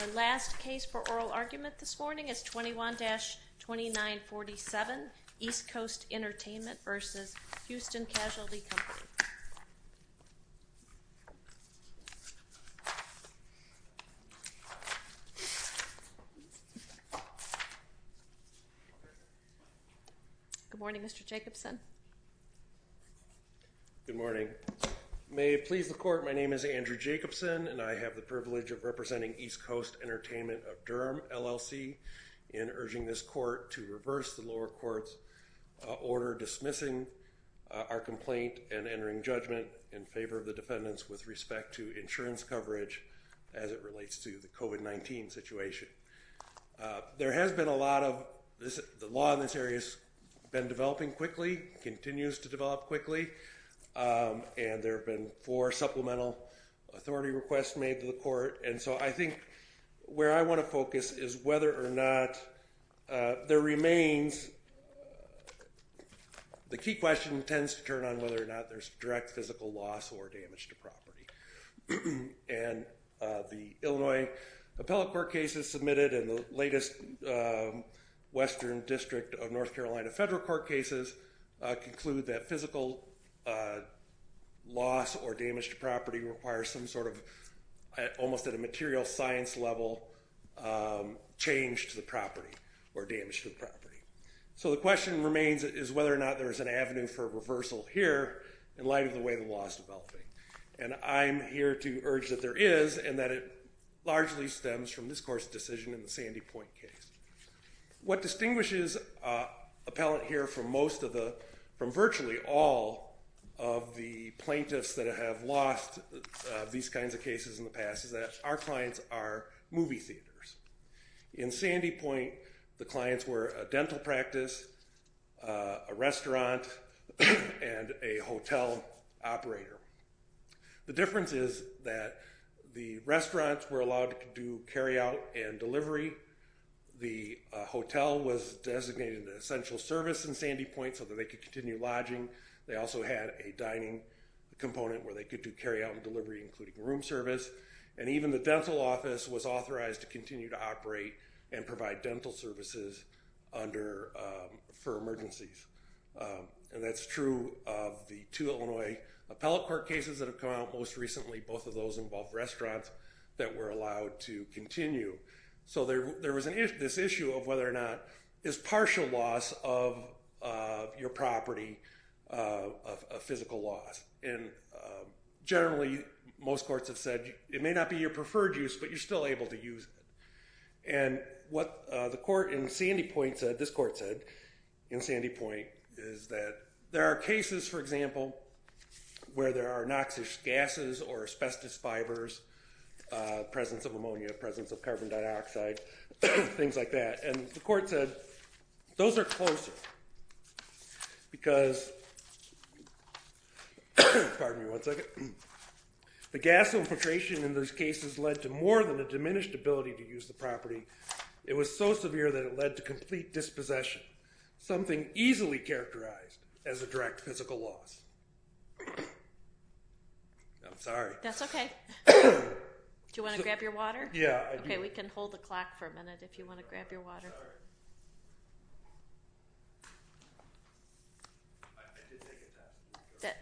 Our last case for oral argument this morning is 21-2947 East Coast Entertainment v. Houston Casualty Company. Good morning, Mr. Jacobson. Good morning. May it please the court, my name is Andrew Jacobson and I have the privilege of representing East Coast Entertainment of Durham LLC in urging this court to reverse the lower court's order dismissing our complaint and entering judgment in favor of the defendants with respect to insurance coverage as it relates to the COVID-19 situation. There has been a lot of, the law in this area has been developing quickly, continues to develop quickly, and there have been four supplemental authority requests made to the court and so I think where I want to focus is whether or not there remains, the key question tends to turn on whether or not there's direct physical loss or damage to property. And the Illinois Appellate Court cases submitted and the latest Western District of North Carolina Federal Court cases conclude that physical loss or damage to property requires some sort of, almost at a material science level, change to the property or damage to the property. So the question remains is whether or not there is an avenue for reversal here in light of the way the law is developing. And I'm here to urge that there is and that it largely stems from this court's decision in the Sandy Point case. What distinguishes appellant here from most of the, from virtually all of the plaintiffs that have lost these kinds of cases in the past is that our clients are movie theaters. In Sandy Point, the clients were a dental practice, a restaurant, and a hotel operator. The difference is that the restaurants were allowed to do carry out and delivery. The hotel was designated an essential service in Sandy Point so that they could continue lodging. They also had a dining component where they could do carry out and delivery including room service. And even the dental office was authorized to continue to operate and provide dental services under, for emergencies. And that's true of the two Illinois appellate court cases that have come out most recently. Both of those involve restaurants that were allowed to continue. So there was this issue of whether or not is partial loss of your property a physical loss. And generally most courts have said it may not be your preferred use but you're still able to use it. And what the court in Sandy Point said, this court said in Sandy Point is that there are cases for example where there are noxious gases or asbestos fibers, presence of ammonia, presence of carbon dioxide, things like that. And the court said those are closer because, pardon me one second, the gas infiltration in those cases led to more than a diminished ability to use the property. It was so severe that it led to complete dispossession, something easily characterized as a direct physical loss. I'm sorry. That's okay. Do you want to grab your water? Yeah. Okay, we can hold the clock for a minute if you want to grab your water. I did take a test.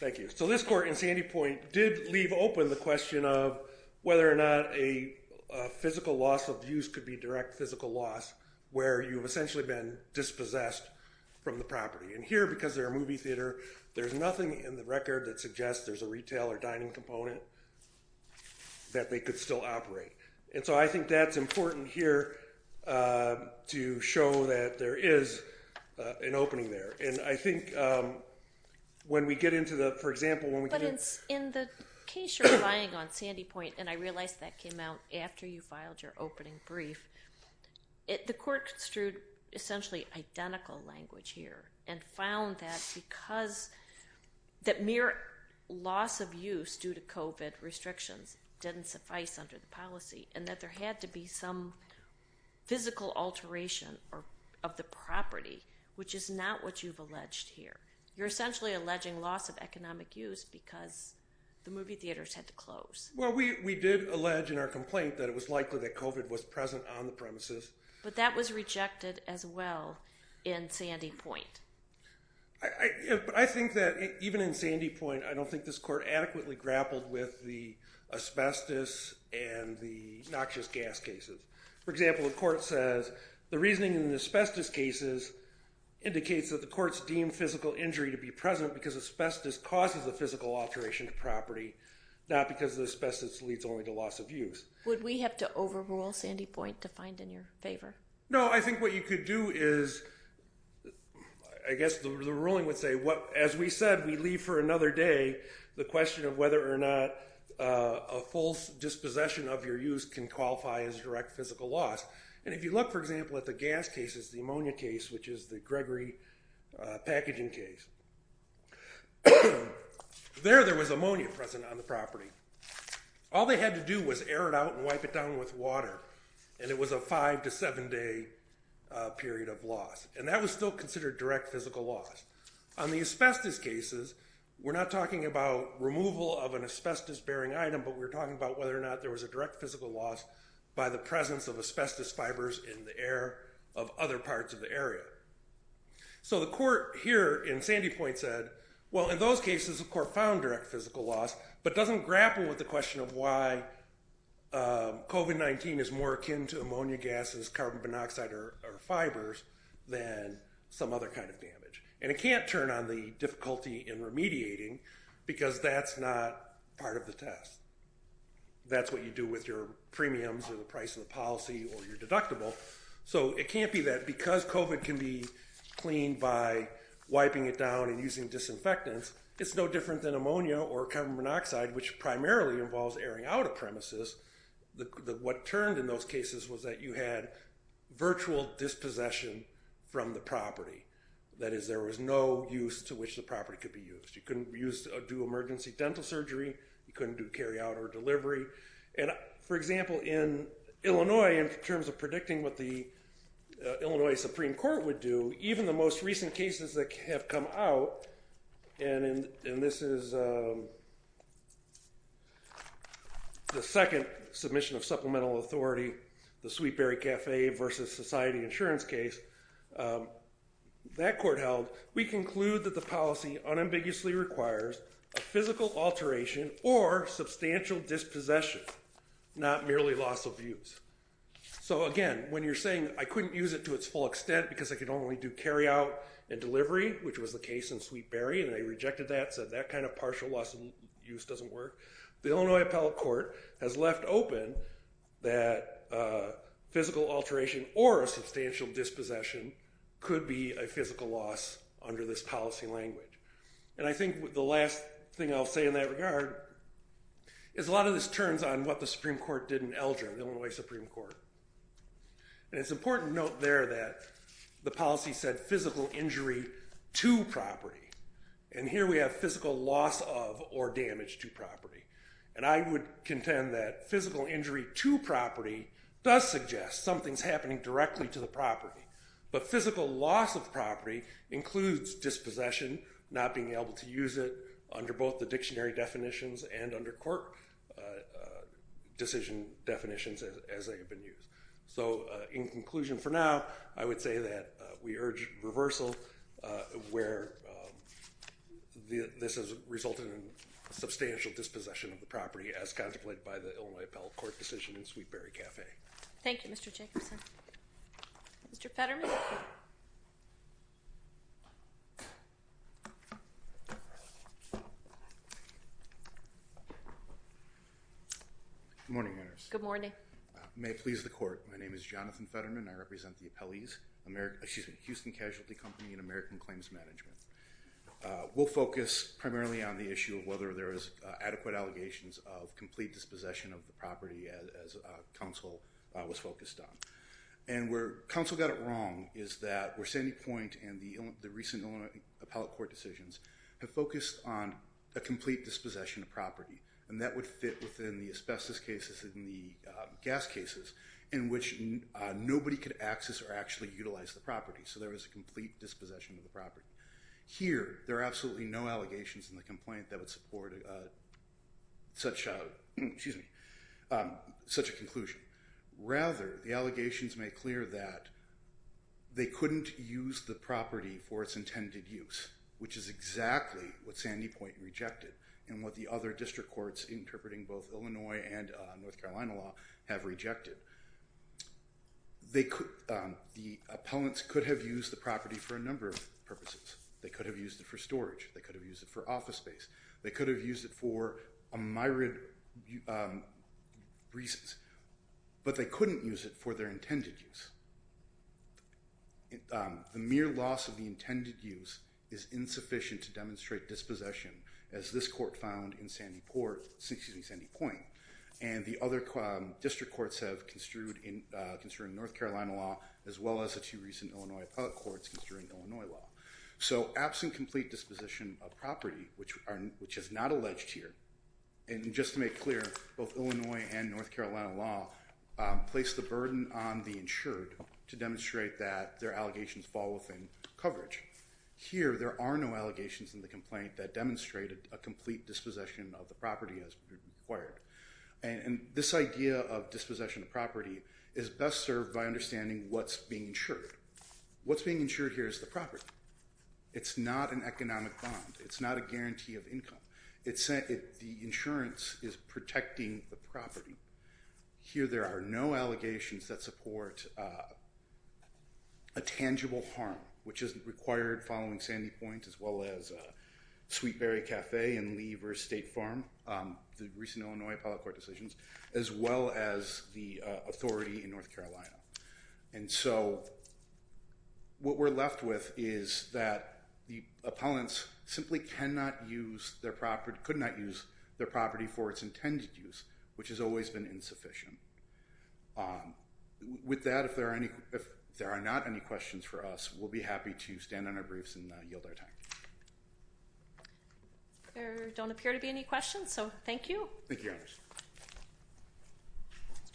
Thank you. So this court in Sandy Point did leave open the question of whether or not a physical loss of use could be direct physical loss where you've essentially been dispossessed from the property. And here, because they're a movie theater, there's nothing in the record that suggests there's a retail or dining component that they could still operate. And so I think that's important here to show that there is an opening there. And I think when we get into the, for example, when we get into… And I realize that came out after you filed your opening brief. The court construed essentially identical language here and found that because that mere loss of use due to COVID restrictions didn't suffice under the policy and that there had to be some physical alteration of the property, which is not what you've alleged here. You're essentially alleging loss of economic use because the movie theaters had to close. Well, we did allege in our complaint that it was likely that COVID was present on the premises. But that was rejected as well in Sandy Point. I think that even in Sandy Point, I don't think this court adequately grappled with the asbestos and the noxious gas cases. For example, the court says the reasoning in the asbestos cases indicates that the courts deem physical injury to be present because asbestos causes a physical alteration to property, not because the asbestos leads only to loss of use. Would we have to overrule Sandy Point to find in your favor? No, I think what you could do is, I guess the ruling would say, as we said, we leave for another day the question of whether or not a false dispossession of your use can qualify as direct physical loss. And if you look, for example, at the gas cases, the ammonia case, which is the Gregory packaging case, there there was ammonia present on the property. All they had to do was air it out and wipe it down with water. And it was a five to seven day period of loss. And that was still considered direct physical loss. On the asbestos cases, we're not talking about removal of an asbestos bearing item, but we're talking about whether or not there was a direct physical loss by the presence of asbestos fibers in the air of other parts of the area. So the court here in Sandy Point said, well, in those cases, the court found direct physical loss, but doesn't grapple with the question of why COVID-19 is more akin to ammonia gases, carbon monoxide or fibers than some other kind of damage. And it can't turn on the difficulty in remediating because that's not part of the test. That's what you do with your premiums or the price of the policy or your deductible. So it can't be that because COVID can be cleaned by wiping it down and using disinfectants. It's no different than ammonia or carbon monoxide, which primarily involves airing out of premises. What turned in those cases was that you had virtual dispossession from the property. That is, there was no use to which the property could be used. You couldn't do emergency dental surgery. You couldn't do carry out or delivery. And, for example, in Illinois, in terms of predicting what the Illinois Supreme Court would do, even the most recent cases that have come out, and this is the second submission of supplemental authority, the Sweet Berry Cafe versus Society Insurance case, that court held, we conclude that the policy unambiguously requires a physical alteration or substantial dispossession. Not merely loss of use. So, again, when you're saying, I couldn't use it to its full extent because I could only do carry out and delivery, which was the case in Sweet Berry, and they rejected that, said that kind of partial loss of use doesn't work. The Illinois Appellate Court has left open that physical alteration or a substantial dispossession could be a physical loss under this policy language. And I think the last thing I'll say in that regard is a lot of this turns on what the Supreme Court did in Eldridge, the Illinois Supreme Court. And it's important to note there that the policy said physical injury to property. And here we have physical loss of or damage to property. And I would contend that physical injury to property does suggest something's happening directly to the property. But physical loss of property includes dispossession, not being able to use it under both the dictionary definitions and under court decision definitions as they have been used. So, in conclusion for now, I would say that we urge reversal where this has resulted in substantial dispossession of the property as contemplated by the Illinois Appellate Court decision in Sweet Berry Cafe. Thank you, Mr. Jacobson. Mr. Petterman. Good morning, Your Honor. Good morning. I may please the court. My name is Jonathan Petterman. I represent the Houston Casualty Company and American Claims Management. We'll focus primarily on the issue of whether there is adequate allegations of complete dispossession of the property as counsel was focused on. And where counsel got it wrong is that where Sandy Point and the recent Illinois Appellate Court decisions have focused on a complete dispossession of property. And that would fit within the asbestos cases and the gas cases in which nobody could access or actually utilize the property. So there is a complete dispossession of the property. Here, there are absolutely no allegations in the complaint that would support such a conclusion. Rather, the allegations make clear that they couldn't use the property for its intended use, which is exactly what Sandy Point rejected and what the other district courts, interpreting both Illinois and North Carolina law, have rejected. The appellants could have used the property for a number of purposes. They could have used it for storage. They could have used it for office space. They could have used it for a myriad of reasons. But they couldn't use it for their intended use. The mere loss of the intended use is insufficient to demonstrate dispossession, as this court found in Sandy Point. And the other district courts have construed in North Carolina law, as well as the two recent Illinois Appellate Courts, construing Illinois law. So absent complete disposition of property, which is not alleged here, and just to make clear, both Illinois and North Carolina law place the burden on the insured to demonstrate that their allegations fall within coverage. Here, there are no allegations in the complaint that demonstrate a complete dispossession of the property as required. And this idea of dispossession of property is best served by understanding what's being insured. What's being insured here is the property. It's not an economic bond. It's not a guarantee of income. The insurance is protecting the property. Here, there are no allegations that support a tangible harm, which is required following Sandy Point, as well as Sweet Berry Cafe and Lever State Farm, the recent Illinois Appellate Court decisions, as well as the authority in North Carolina. And so what we're left with is that the appellants simply cannot use their property, could not use their property for its intended use, which has always been insufficient. With that, if there are not any questions for us, we'll be happy to stand on our briefs and yield our time. There don't appear to be any questions, so thank you. Thank you. Thank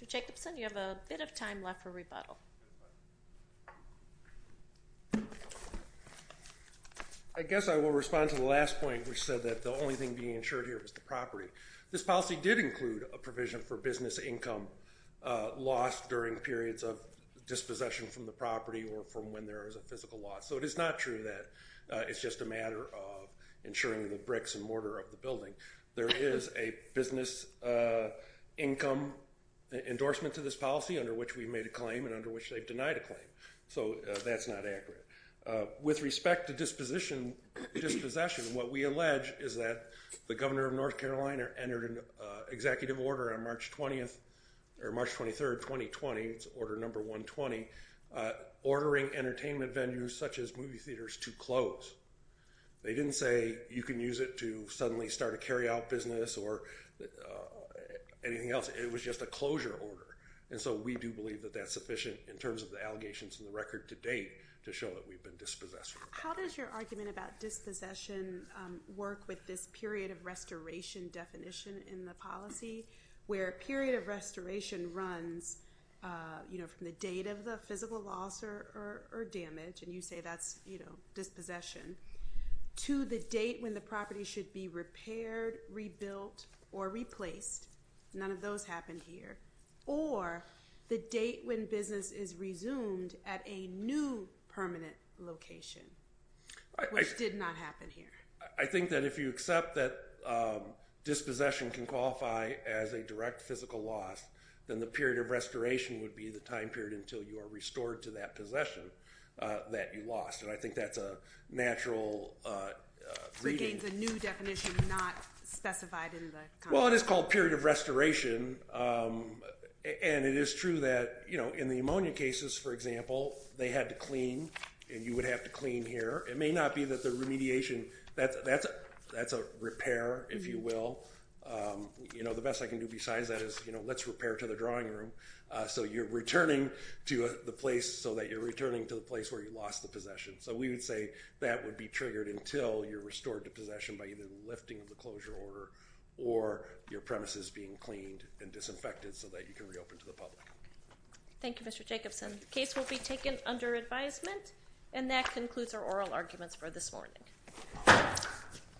you. Mr. Jacobson, you have a bit of time left for rebuttal. I guess I will respond to the last point, which said that the only thing being insured here was the property. This policy did include a provision for business income lost during periods of dispossession from the property or from when there is a physical loss. So it is not true that it's just a matter of insuring the bricks and mortar of the building. There is a business income endorsement to this policy under which we made a claim and under which they've denied a claim. So that's not accurate. With respect to dispossession, what we allege is that the governor of North Carolina entered an executive order on March 23, 2020, it's order number 120, ordering entertainment venues such as movie theaters to close. They didn't say you can use it to suddenly start a carryout business or anything else. It was just a closure order. And so we do believe that that's sufficient in terms of the allegations in the record to date to show that we've been dispossessed. How does your argument about dispossession work with this period of restoration definition in the policy, where a period of restoration runs from the date of the physical loss or damage, and you say that's dispossession, to the date when the property should be repaired, rebuilt, or replaced. None of those happened here. Or the date when business is resumed at a new permanent location, which did not happen here. I think that if you accept that dispossession can qualify as a direct physical loss, then the period of restoration would be the time period until you are restored to that possession that you lost. And I think that's a natural reading. So it gains a new definition not specified in the contract. Well, it is called period of restoration. And it is true that in the ammonia cases, for example, they had to clean, and you would have to clean here. It may not be that the remediation, that's a repair, if you will. You know, the best I can do besides that is, you know, let's repair to the drawing room. So you're returning to the place so that you're returning to the place where you lost the possession. So we would say that would be triggered until you're restored to possession by either the lifting of the closure order or your premises being cleaned and disinfected so that you can reopen to the public. Thank you, Mr. Jacobson. The case will be taken under advisement. And that concludes our oral arguments for this morning.